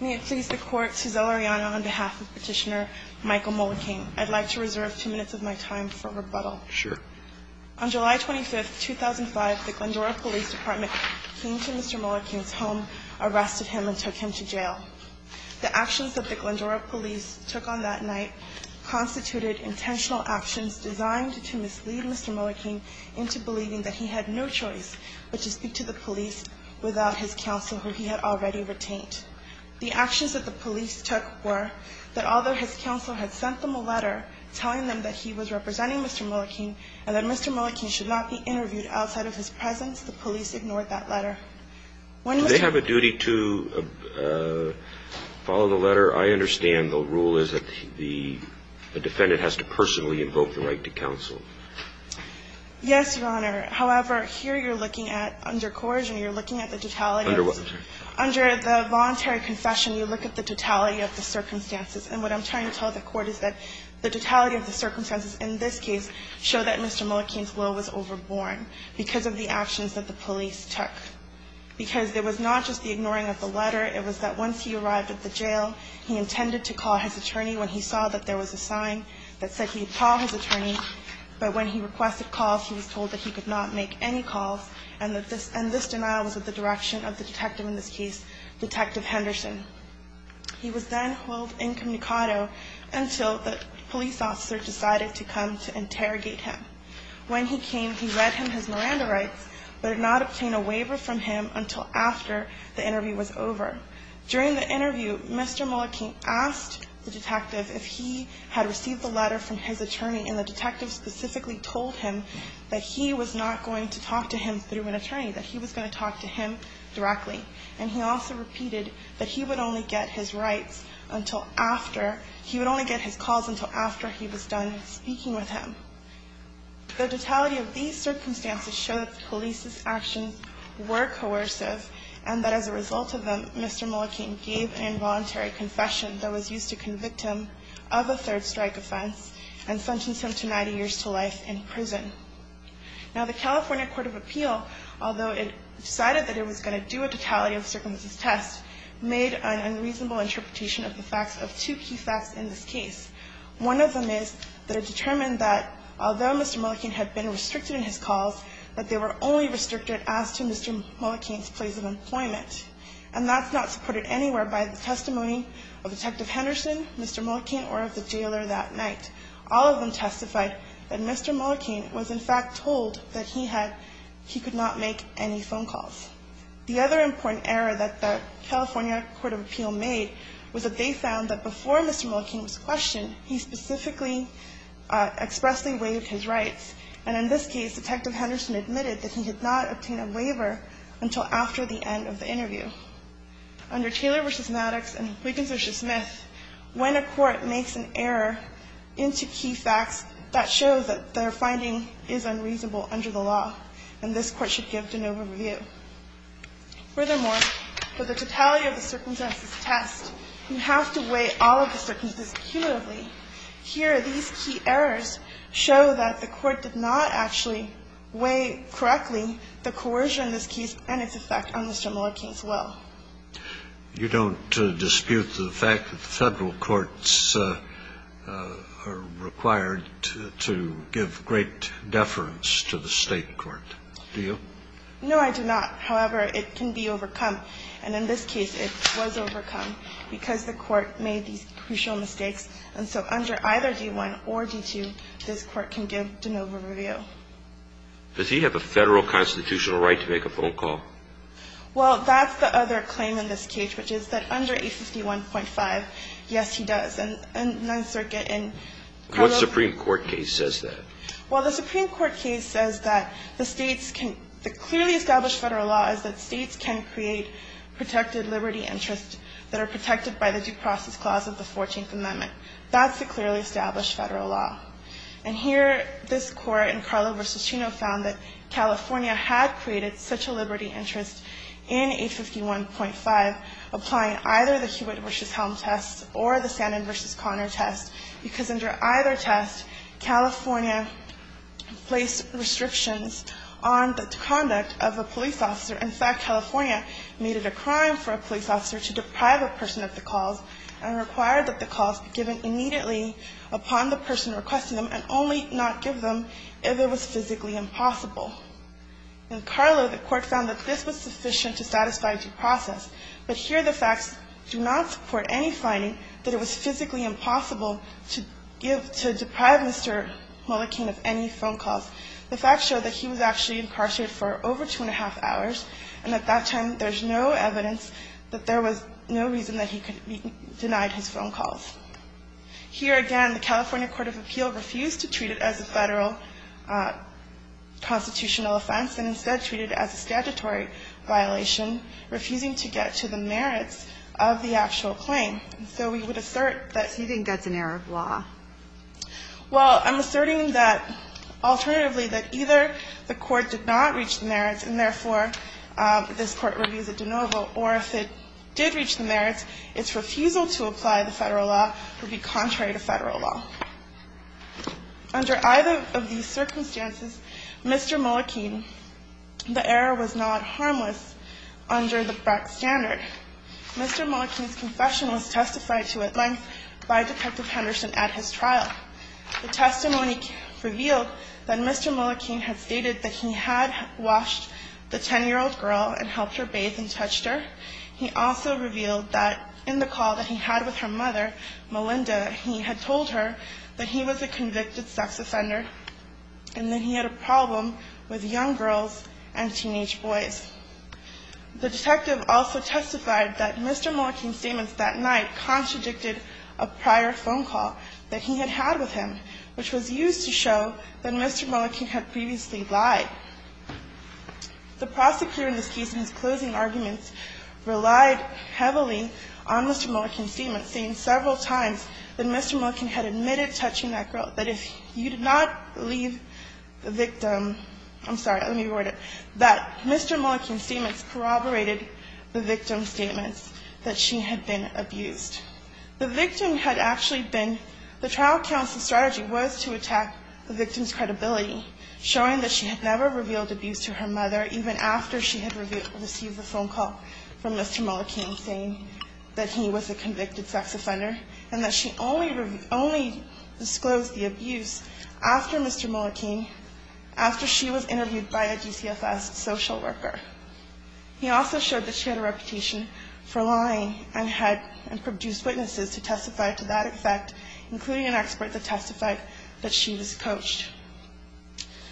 May it please the Court, Suzelle Arellano on behalf of Petitioner Michael Mullicane, I'd like to reserve two minutes of my time for rebuttal. Sure. On July 25th, 2005, the Glendora Police Department came to Mr. Mullicane's home, arrested him, and took him to jail. The actions that the Glendora Police took on that night constituted intentional actions designed to mislead Mr. Mullicane into believing that he had no choice but to speak to the police without his counsel, who he had already retained. The actions that the police took were that although his counsel had sent them a letter telling them that he was representing Mr. Mullicane and that Mr. Mullicane should not be interviewed outside of his presence, the police ignored that letter. Do they have a duty to follow the letter? I understand the rule is that the defendant has to personally invoke the right to counsel. Yes, Your Honor. However, here you're looking at under coercion, you're looking at the totality of the circumstances, and what I'm trying to tell the Court is that the totality of the circumstances in this case show that Mr. Mullicane's will was overborn because of the actions that the police took. Because it was not just the ignoring of the letter, it was that once he arrived at the jail, he intended to call his attorney when he saw that there was a sign that said he would call his attorney, but when he requested calls, he was told that he could not make any calls, and that this denial was of the direction of the detective in this case, Detective Henderson. He was then held incommunicado until the police officer decided to come to interrogate him. When he came, he read him his Miranda rights, but did not obtain a waiver from him until after the interview was over. During the interview, Mr. Mullicane asked the detective if he had received a letter from his attorney, and the detective specifically told him that he was not going to talk to him through an attorney, that he was going to talk to him directly. And he also repeated that he would only get his rights until after he would only get his calls until after he was done speaking with him. The totality of these circumstances show that the police's actions were coercive, and that as a result of them, Mr. Mullicane gave an involuntary confession that was used to convict him of a third-strike offense and sentenced him to 90 years to life in prison. Now, the California Court of Appeal, although it decided that it was going to do a totality of circumstances test, made an unreasonable interpretation of the facts of two key facts in this case. One of them is that it determined that although Mr. Mullicane had been restricted in his calls, that they were only restricted as to Mr. Mullicane's place of employment, and that's not supported anywhere by the testimony of Detective Henderson, Mr. Mullicane, or of the jailer that night. All of them testified that Mr. Mullicane was, in fact, told that he had he could not make any phone calls. The other important error that the California Court of Appeal made was that they found that before Mr. Mullicane was questioned, he specifically expressly waived his rights. And in this case, Detective Henderson admitted that he did not obtain a waiver until after the end of the interview. Under Taylor v. Maddox and Wiggins v. Smith, when a court makes an error into key facts, that shows that their finding is unreasonable under the law, and this Court should give de novo review. Furthermore, for the totality of the circumstances test, you have to weigh all of the circumstances cumulatively. Here, these key errors show that the Court did not actually weigh correctly the coercion in this case and its effect on Mr. Mullicane's will. You don't dispute the fact that the Federal courts are required to give great deference to the State court, do you? No, I do not. However, it can be overcome. And in this case, it was overcome because the Court made these crucial mistakes. And so under either D-1 or D-2, this Court can give de novo review. Does he have a Federal constitutional right to make a phone call? Well, that's the other claim in this case, which is that under A51.5, yes, he does. And Ninth Circuit in Colorado What Supreme Court case says that? Well, the Supreme Court case says that the States can the clearly established Federal law is that States can create protected liberty interests that are protected by the due process clause of the 14th Amendment. That's the clearly established Federal law. And here, this Court in Carlo v. Chino found that California had created such a liberty interest in A51.5, applying either the Hewitt v. Helm test or the Sandin v. Conner test, because under either test, California placed restrictions on the conduct of a police officer. In fact, California made it a crime for a police officer to deprive a person of the calls and required that the calls be given immediately upon the person requesting them and only not give them if it was physically impossible. In Carlo, the Court found that this was sufficient to satisfy due process. But here, the facts do not support any finding that it was physically impossible to give to deprive Mr. Mullikin of any phone calls. The facts show that he was actually incarcerated for over two and a half hours, and at that time, there's no evidence that there was no reason that he could be denied his phone calls. Here again, the California Court of Appeal refused to treat it as a Federal constitutional offense and instead treated it as a statutory violation, refusing to get to the merits of the actual claim. And so we would assert that he didn't get an error of law. Well, I'm asserting that alternatively, that either the Court did not reach the merits and therefore this Court reviews it de novo, or if it did reach the merits, its refusal to apply the Federal law would be contrary to Federal law. Under either of these circumstances, Mr. Mullikin, the error was not harmless under the Brecht standard. Mr. Mullikin's confession was testified to at length by Detective Henderson at his trial. The testimony revealed that Mr. Mullikin had stated that he had washed the 10-year-old girl and helped her bathe and touched her. He also revealed that in the call that he had with her mother, Melinda, he had told her that he was a convicted sex offender and that he had a problem with young girls and teenage boys. The detective also testified that Mr. Mullikin's statements that night contradicted a prior phone call that he had had with him, which was used to show that Mr. Mullikin had previously lied. The prosecutor in this case in his closing arguments relied heavily on Mr. Mullikin's testimony and admitted touching that girl, that if you did not leave the victim – I'm sorry, let me reword it – that Mr. Mullikin's statements corroborated the victim's statements that she had been abused. The victim had actually been – the trial counsel's strategy was to attack the victim's credibility, showing that she had never revealed abuse to her mother even after she had received a phone call from Mr. Mullikin saying that he was a convicted sex offender and that she only disclosed the abuse after Mr. Mullikin – after she was interviewed by a DCFS social worker. He also showed that she had a reputation for lying and had produced witnesses to testify to that effect, including an expert that testified that she was coached.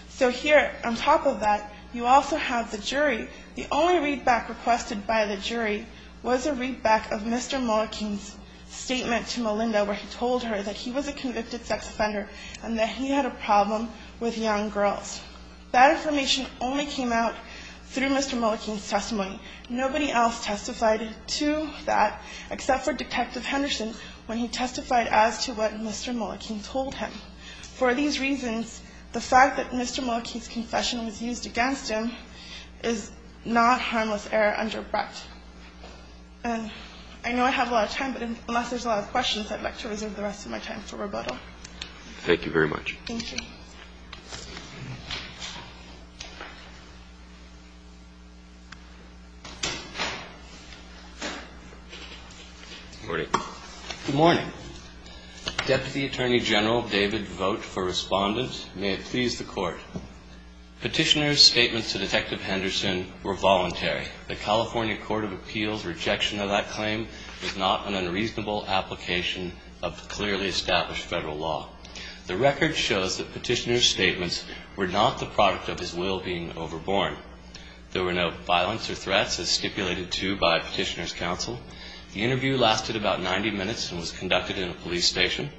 So here, on top of that, you also have the jury. The only readback requested by the jury was a readback of Mr. Mullikin's statement to Melinda where he told her that he was a convicted sex offender and that he had a problem with young girls. That information only came out through Mr. Mullikin's testimony. Nobody else testified to that except for Detective Henderson when he testified as to what Mr. Mullikin told him. So for these reasons, the fact that Mr. Mullikin's confession was used against him is not harmless error under Brett. And I know I have a lot of time, but unless there's a lot of questions, I'd like to reserve the rest of my time for rebuttal. Thank you very much. Thank you. Good morning. Deputy Attorney General David Vogt for Respondent. May it please the Court. Petitioner's statements to Detective Henderson were voluntary. The California Court of Appeals' rejection of that claim was not an unreasonable application of clearly established Federal law. The record shows that Petitioner's statements were not the product of his will being overborne. There were no violence or threats as stipulated to by Petitioner's counsel. The interview lasted about 90 minutes and was conducted in a police station.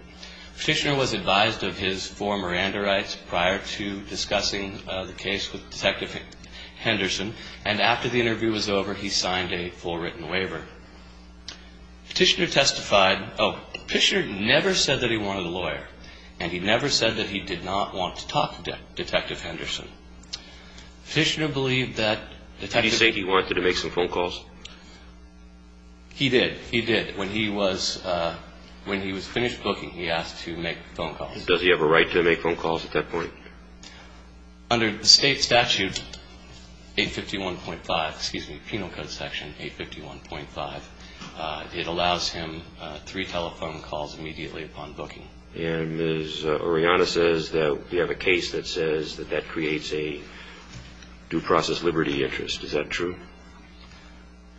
Petitioner was advised of his four Miranda rights prior to discussing the case with Detective Henderson, and after the interview was over, he signed a full written waiver. Petitioner testified. He never said that he did not want to talk to Detective Henderson. Petitioner believed that Detective Henderson. Did he say he wanted to make some phone calls? He did. He did. When he was finished booking, he asked to make phone calls. Does he have a right to make phone calls at that point? Under the State Statute 851.5, excuse me, Penal Code Section 851.5, it allows him three telephone calls immediately upon booking. And Ms. Orellana says that we have a case that says that that creates a due process liberty interest. Is that true?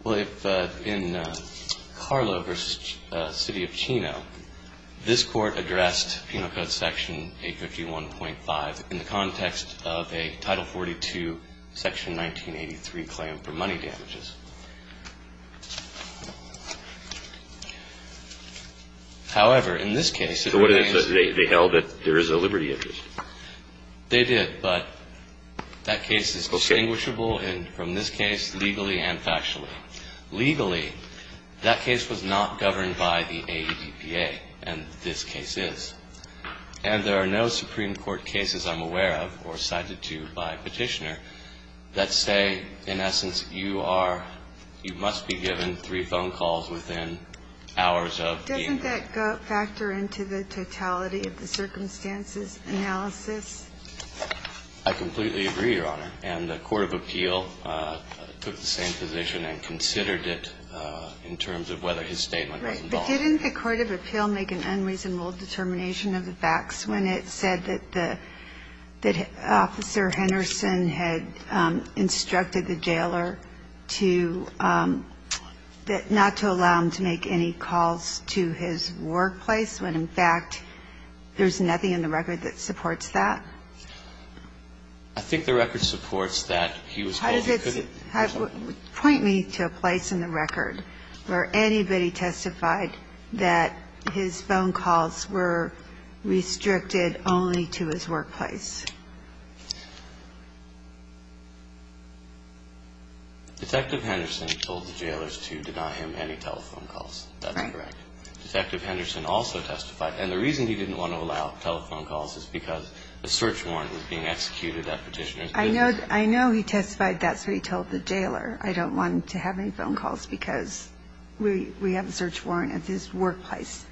Well, if in Carlo versus the City of Chino, this Court addressed Penal Code Section 851.5 in the context of a Title 42, Section 1983 claim for money damages. However, in this case, it remains. So what did they say? They held that there is a liberty interest. They did, but that case is distinguishable from this case legally and factually. Legally, that case was not governed by the AEDPA, and this case is. And there are no Supreme Court cases I'm aware of or cited to by Petitioner that say, in essence, you are, you must be given three phone calls within hours of being there. Doesn't that factor into the totality of the circumstances analysis? I completely agree, Your Honor. And the court of appeal took the same position and considered it in terms of whether his statement was involved. Right. But didn't the court of appeal make an unreasonable determination of the facts when it said that the, that Officer Henderson had instructed the jailer to, not to allow him to make any calls to his workplace when, in fact, there's nothing in the record that supports that? I think the record supports that he was called. How does it point me to a place in the record where anybody testified that his phone calls were restricted only to his workplace? Detective Henderson told the jailers to deny him any telephone calls. That's correct. Right. Detective Henderson also testified. And the reason he didn't want to allow telephone calls is because a search warrant was being executed at Petitioner's business. I know he testified that's what he told the jailer. I don't want him to have any phone calls because we have a search warrant at his workplace.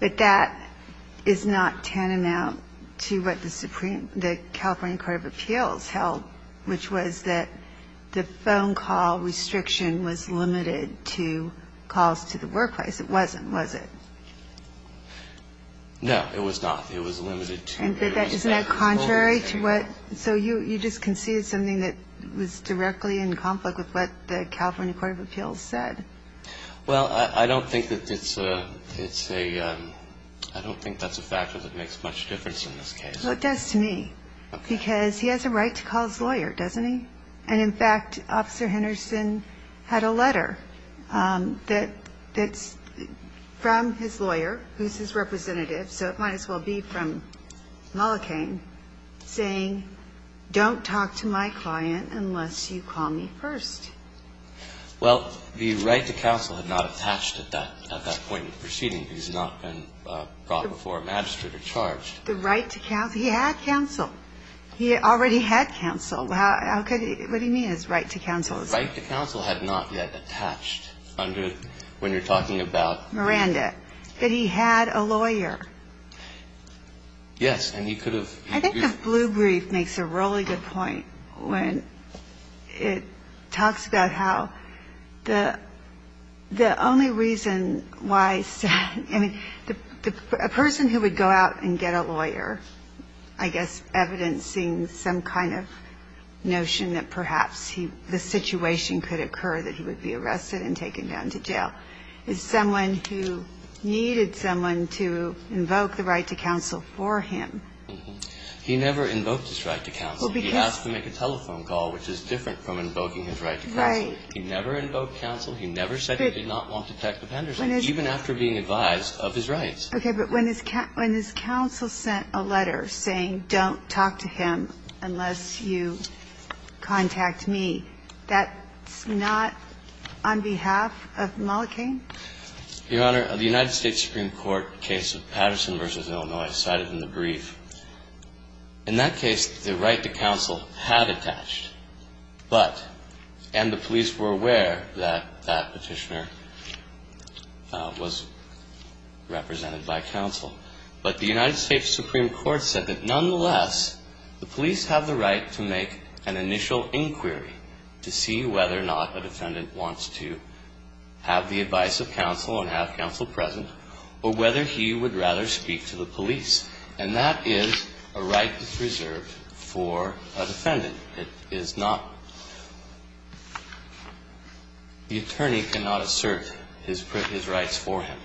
But that is not tantamount to what the Supreme, the California court of appeals held, which was that the phone call restriction was limited to calls to the workplace. It wasn't, was it? No, it was not. It was limited to only telephone calls. Isn't that contrary to what so you just conceded something that was directly in conflict with what the California court of appeals said? Well, I don't think that it's a, it's a, I don't think that's a factor that makes much difference in this case. Well, it does to me. Okay. Because he has a right to call his lawyer, doesn't he? And in fact, Officer Henderson had a letter that's from his lawyer, who's his representative, so it might as well be from Mullikane, saying don't talk to my client unless you call me first. Well, the right to counsel had not attached at that point in the proceeding. He's not been brought before a magistrate or charged. The right to counsel? He had counsel. He already had counsel. How could he, what do you mean his right to counsel? His right to counsel had not yet attached under, when you're talking about Miranda, that he had a lawyer. Yes, and he could have I think the blue brief makes a really good point when it talks about how the only reason why, I mean, a person who would go out and get a lawyer, I guess, evidencing some kind of notion that perhaps the situation could occur, that he would be arrested and taken down to jail, is someone who needed someone to invoke the right to counsel for him. He never invoked his right to counsel. He asked to make a telephone call, which is different from invoking his right to counsel. Right. He never invoked counsel. He never said he did not want to talk to Henderson, even after being advised of his rights. Okay, but when his counsel sent a letter saying don't talk to him unless you contact me, that's not on behalf of Mullikane? Your Honor, the United States Supreme Court case of Patterson v. Illinois cited in the brief, in that case, the right to counsel had attached. But, and the police were aware that that petitioner was represented by counsel. But the United States Supreme Court said that nonetheless, the police have the right to make an initial inquiry to see whether or not a defendant wants to have the advice of counsel and have counsel present, or whether he would rather speak to the police. And that is a right that's reserved for a defendant. It is not the attorney cannot assert his rights for him.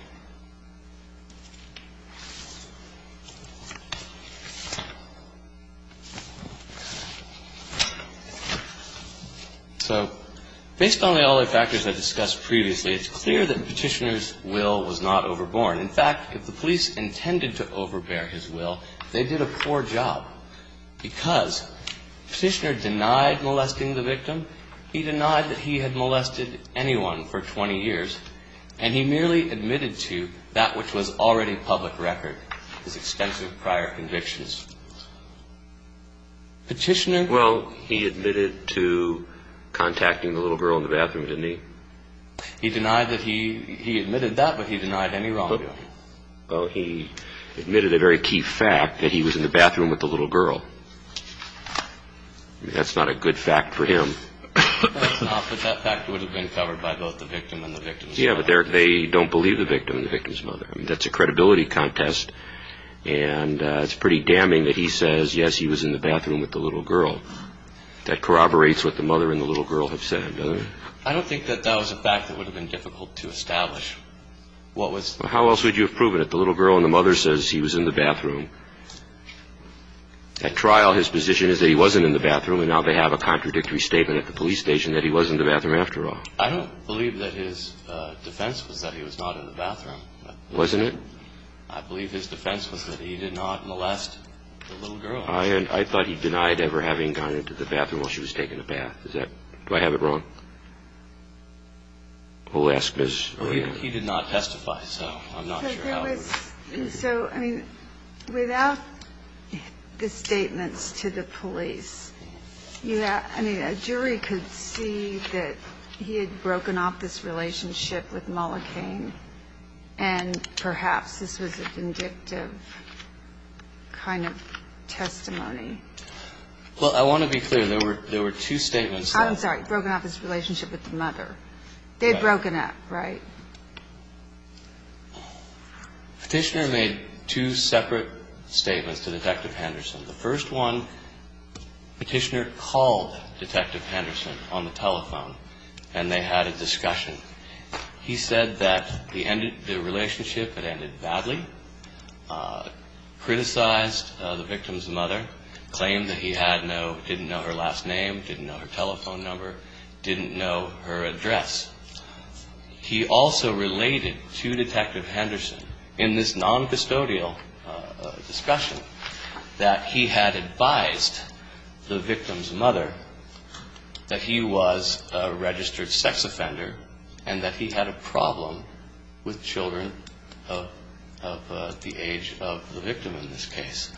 So based on all the factors I discussed previously, it's clear that Petitioner's will was not overborne. In fact, if the police intended to overbear his will, they did a poor job. Because Petitioner denied molesting the victim. He denied that he had molested anyone for 20 years. And he merely admitted to that which was already public record, his extensive prior convictions. Petitioner. Well, he admitted to contacting the little girl in the bathroom, didn't he? He denied that he, he admitted that, but he denied any wrongdoing. Well, he admitted a very key fact, that he was in the bathroom with the little girl. That's not a good fact for him. But that fact would have been covered by both the victim and the victim's mother. Yeah, but they don't believe the victim and the victim's mother. That's a credibility contest. And it's pretty damning that he says, yes, he was in the bathroom with the little girl. That corroborates what the mother and the little girl have said, doesn't it? I don't think that that was a fact that would have been difficult to establish. How else would you have proven it? The little girl and the mother says he was in the bathroom. At trial, his position is that he wasn't in the bathroom. And now they have a contradictory statement at the police station that he was in the bathroom after all. I don't believe that his defense was that he was not in the bathroom. Wasn't it? I believe his defense was that he did not molest the little girl. I thought he denied ever having gone into the bathroom while she was taking a bath. Do I have it wrong? He did not testify, so I'm not sure how. So, I mean, without the statements to the police, I mean, a jury could see that he had broken off this relationship with Mollikane, and perhaps this was a vindictive kind of testimony. Well, I want to be clear. There were two statements. I'm sorry. Broken off his relationship with the mother. They'd broken up, right? Petitioner made two separate statements to Detective Henderson. The first one, Petitioner called Detective Henderson on the telephone, and they had a discussion. He said that the relationship had ended badly, criticized the victim's mother, claimed that he didn't know her last name, didn't know her telephone number, didn't know her address. He also related to Detective Henderson in this noncustodial discussion that he had advised the victim's mother that he was a registered sex offender and that he had a problem with children of the age of the victim in this case.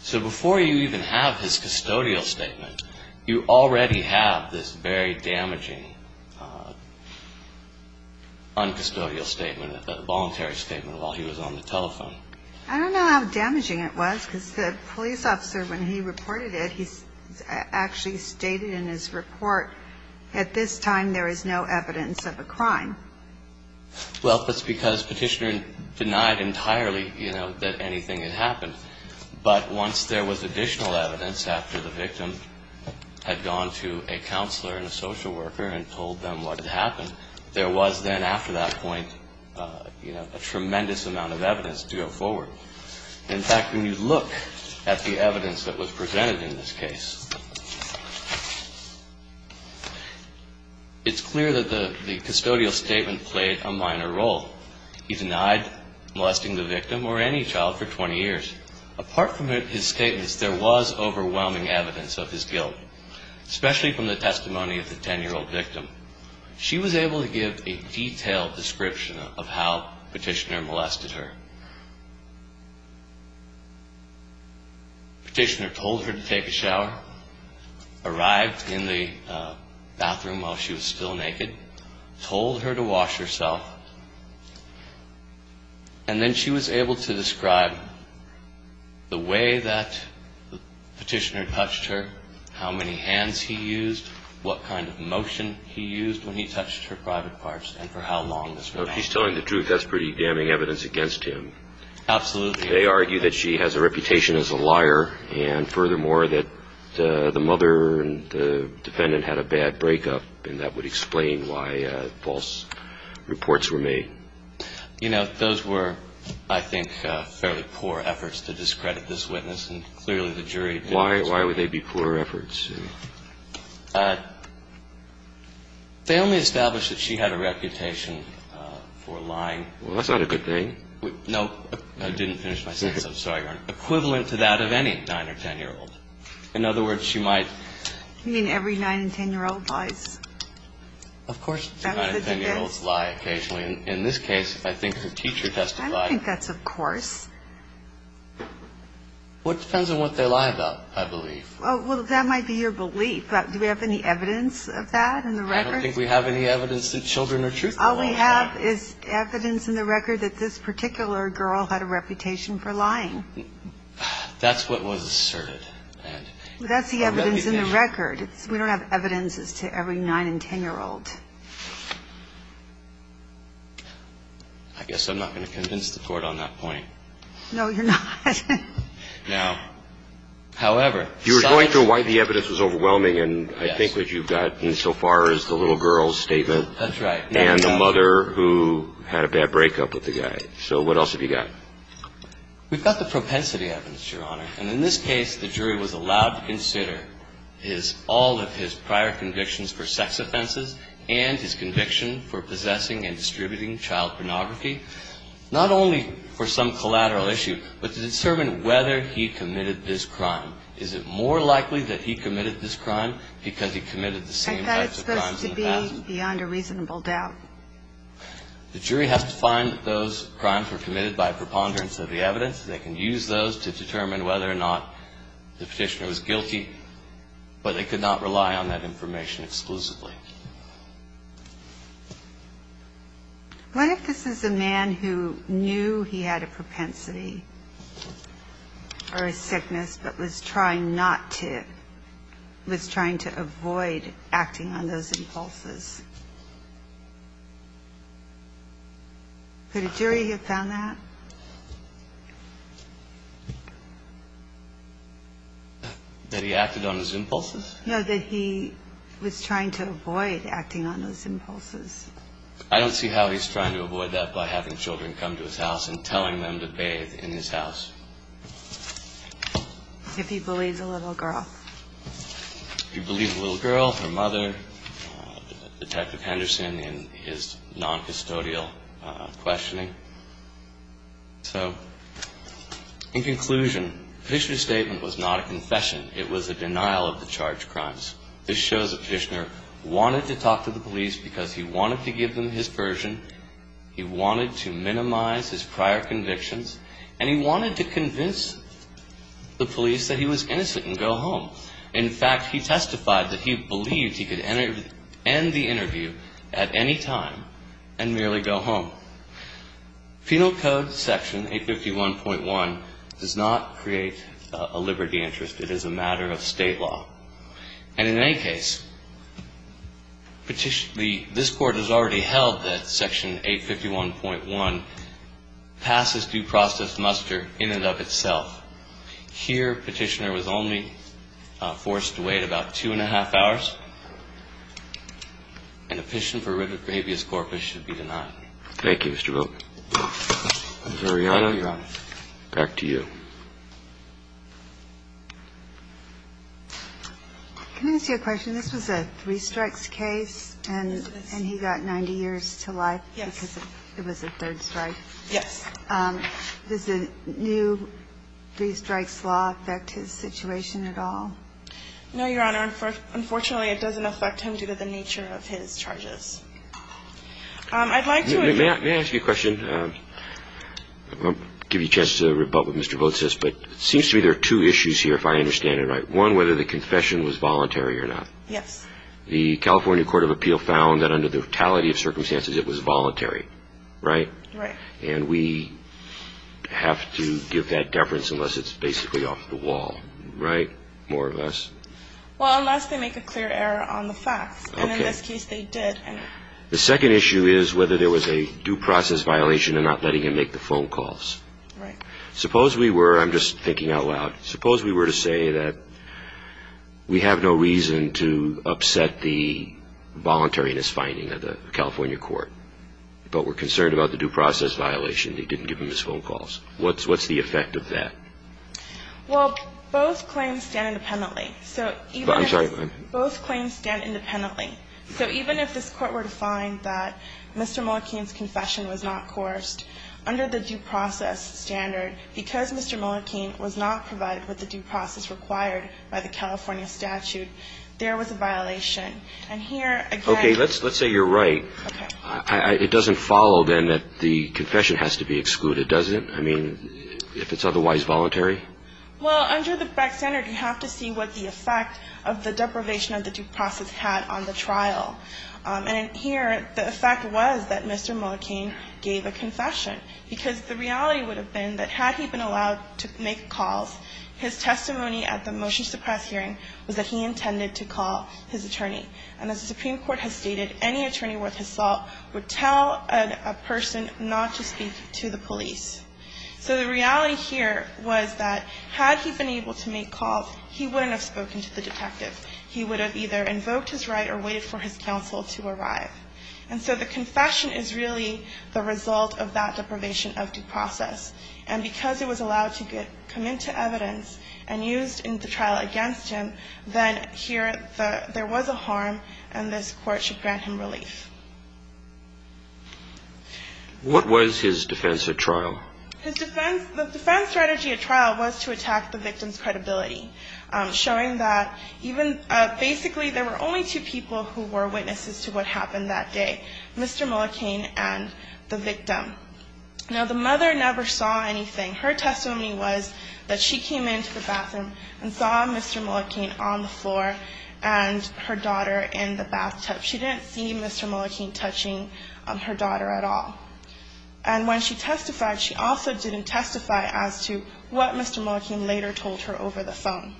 So before you even have his custodial statement, you already have this very damaging noncustodial statement, a voluntary statement while he was on the telephone. I don't know how damaging it was because the police officer, when he reported it, he actually stated in his report, at this time there is no evidence of a crime. Well, that's because Petitioner denied entirely, you know, that anything had happened. But once there was additional evidence after the victim had gone to a counselor and a social worker and told them what had happened, there was then after that point, you know, a tremendous amount of evidence to go forward. In fact, when you look at the evidence that was presented in this case, it's clear that the custodial statement played a minor role. He denied molesting the victim or any child for 20 years. Apart from his statements, there was overwhelming evidence of his guilt, especially from the testimony of the 10-year-old victim. She was able to give a detailed description of how Petitioner molested her. Petitioner told her to take a shower, arrived in the bathroom while she was still naked, told her to wash herself, and then she was able to describe the way that Petitioner touched her, how many hands he used, what kind of motion he used when he touched her private parts, and for how long this went on. So if he's telling the truth, that's pretty damning evidence against him. Absolutely. They argue that she has a reputation as a liar, and furthermore that the mother and the defendant had a bad breakup, and that would explain why false reports were made. You know, those were, I think, fairly poor efforts to discredit this witness, and clearly the jury didn't. Why would they be poor efforts? They only established that she had a reputation for lying. Well, that's not a good thing. No. I didn't finish my sentence. I'm sorry, Your Honor. Equivalent to that of any 9- or 10-year-old. In other words, she might. You mean every 9- and 10-year-old lies? Of course. 9- and 10-year-olds lie occasionally. In this case, I think her teacher testified. I don't think that's of course. What depends on what they lie about, I believe. Well, that might be your belief. Do we have any evidence of that in the record? I don't think we have any evidence that children are truthful. All we have is evidence in the record that this particular girl had a reputation for lying. That's what was asserted. That's the evidence in the record. We don't have evidence as to every 9- and 10-year-old. I guess I'm not going to convince the Court on that point. No, you're not. No. However. You were going through why the evidence was overwhelming, and I think what you've got insofar as the little girl's statement. That's right. And the mother who had a bad breakup with the guy. So what else have you got? We've got the propensity evidence, Your Honor. And in this case, the jury was allowed to consider all of his prior convictions for sex offenses and his conviction for possessing and distributing child pornography, not only for some collateral issue, but to determine whether he committed this crime. Is it more likely that he committed this crime because he committed the same types of crimes in the past? I thought it was supposed to be beyond a reasonable doubt. The jury has to find that those crimes were committed by preponderance of the evidence. They can use those to determine whether or not the Petitioner was guilty, but they could not rely on that information exclusively. What if this is a man who knew he had a propensity for a sickness but was trying not to, was trying to avoid acting on those impulses? Could a jury have found that? That he acted on his impulses? No, that he was trying to avoid acting on those impulses. I don't see how he's trying to avoid that by having children come to his house and telling them to bathe in his house. If he believes a little girl. If he believes a little girl, her mother, Detective Henderson, in his noncustodial questioning. So, in conclusion, the Petitioner's statement was not a confession. It was a denial of the charged crimes. This shows that Petitioner wanted to talk to the police because he wanted to give them his version, he wanted to minimize his prior convictions, and he wanted to convince the police that he was innocent and go home. In fact, he testified that he believed he could end the interview at any time and merely go home. Penal Code Section 851.1 does not create a liberty interest. It is a matter of state law. And in any case, this Court has already held that Section 851.1 passes due process muster in and of itself. Here, Petitioner was only forced to wait about two and a half hours, and a petition for writ of habeas corpus should be denied. Thank you, Mr. Wilk. Ms. Arianna, back to you. Can I ask you a question? This was a three strikes case, and he got 90 years to life because it was a third strike. Yes. Does the new three strikes law affect his situation at all? No, Your Honor. Unfortunately, it doesn't affect him due to the nature of his charges. May I ask you a question? I'll give you a chance to rebut what Mr. Vogt says, but it seems to me there are two issues here, if I understand it right. One, whether the confession was voluntary or not. Yes. The California Court of Appeal found that under the totality of circumstances it was voluntary, right? Right. And we have to give that deference unless it's basically off the wall, right? More or less. Well, unless they make a clear error on the facts. Okay. In this case, they did. The second issue is whether there was a due process violation in not letting him make the phone calls. Right. Suppose we were, I'm just thinking out loud, suppose we were to say that we have no reason to upset the voluntariness finding of the California court, but we're concerned about the due process violation, they didn't give him his phone calls. What's the effect of that? Well, both claims stand independently. I'm sorry? Both claims stand independently. So even if this Court were to find that Mr. Mullikin's confession was not coursed, under the due process standard, because Mr. Mullikin was not provided with the due process required by the California statute, there was a violation. And here, again ---- Okay. Let's say you're right. Okay. It doesn't follow, then, that the confession has to be excluded, does it? I mean, if it's otherwise voluntary? Well, under the Beck standard, you have to see what the effect of the deprivation of the due process had on the trial. And here, the effect was that Mr. Mullikin gave a confession, because the reality would have been that had he been allowed to make calls, his testimony at the motion suppress hearing was that he intended to call his attorney. And as the Supreme Court has stated, any attorney worth his salt would tell a person not to speak to the police. So the reality here was that had he been able to make calls, he wouldn't have spoken to the detective. He would have either invoked his right or waited for his counsel to arrive. And so the confession is really the result of that deprivation of due process. And because it was allowed to come into evidence and used in the trial against him, then here there was a harm, and this Court should grant him relief. What was his defense at trial? His defense, the defense strategy at trial was to attack the victim's credibility, showing that even, basically there were only two people who were witnesses to what happened that day, Mr. Mullikin and the victim. Now, the mother never saw anything. Her testimony was that she came into the bathroom and saw Mr. Mullikin on the floor and her daughter in the bathtub. She didn't see Mr. Mullikin touching her daughter at all. And when she testified, she also didn't testify as to what Mr. Mullikin later told her over the phone.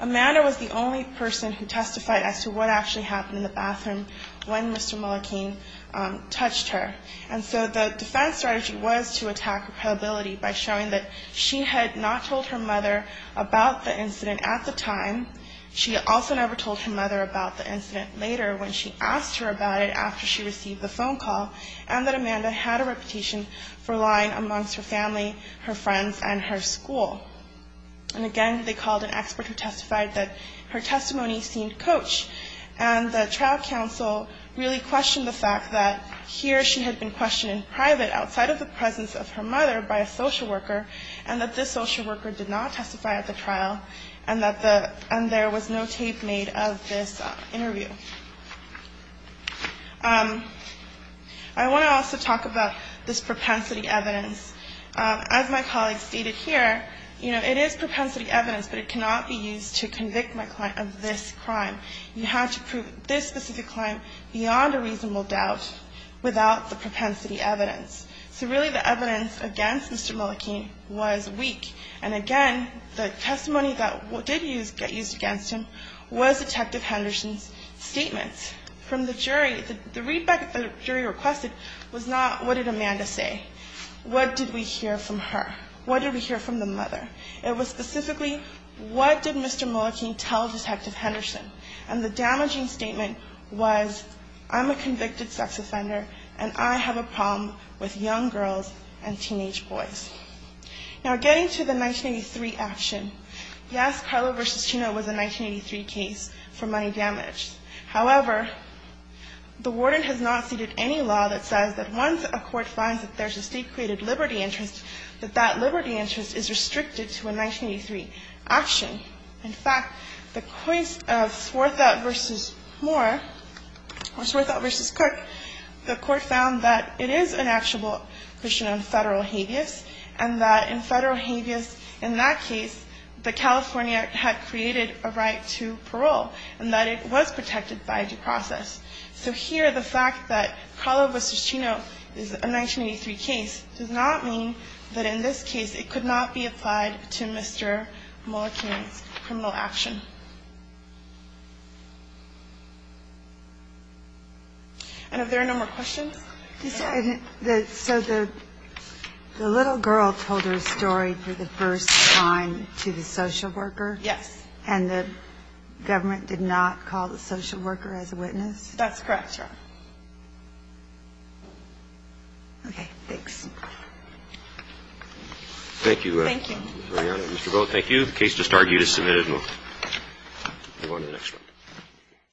Amanda was the only person who testified as to what actually happened in the bathroom when Mr. Mullikin touched her. And so the defense strategy was to attack her credibility by showing that she had not told her mother about the incident at the time. She also never told her mother about the incident later when she asked her about it after she received the phone call, and that Amanda had a reputation for lying amongst her family, her friends, and her school. And again, they called an expert who testified that her testimony seemed coached, and the trial counsel really questioned the fact that here she had been questioned in private outside of the presence of her mother by a social worker, and that this social worker did not testify at the trial, and that the testimony that she testified in was not true. And there was no tape made of this interview. I want to also talk about this propensity evidence. As my colleague stated here, you know, it is propensity evidence, but it cannot be used to convict my client of this crime. You have to prove this specific crime beyond a reasonable doubt without the propensity evidence. So really the evidence against Mr. Mullikin was weak. And again, the testimony that did get used against him was Detective Henderson's statements from the jury. The readback the jury requested was not, what did Amanda say? What did we hear from her? What did we hear from the mother? It was specifically, what did Mr. Mullikin tell Detective Henderson? And the damaging statement was, I'm a convicted sex offender, and I have a problem with young girls and teenage boys. Now, getting to the 1983 action. Yes, Carlo v. Chino was a 1983 case for money damage. However, the warden has not ceded any law that says that once a court finds that there's a state-created liberty interest, that that liberty interest is restricted to a 1983 action. In fact, the case of Swarthout v. Moore, or Swarthout v. Cook, the court found that it is an actual Christian and federal habeas, and that in federal habeas in that case, that California had created a right to parole, and that it was protected by due process. So here the fact that Carlo v. Chino is a 1983 case does not mean that in this case it could not be applied to Mr. Mullikin's criminal action. And if there are no more questions? So the little girl told her story for the first time to the social worker? Yes. And the government did not call the social worker as a witness? That's correct, Your Honor. Okay. Thanks. Thank you. Thank you. Thank you. The case just argued is submitted. We'll go to the next one.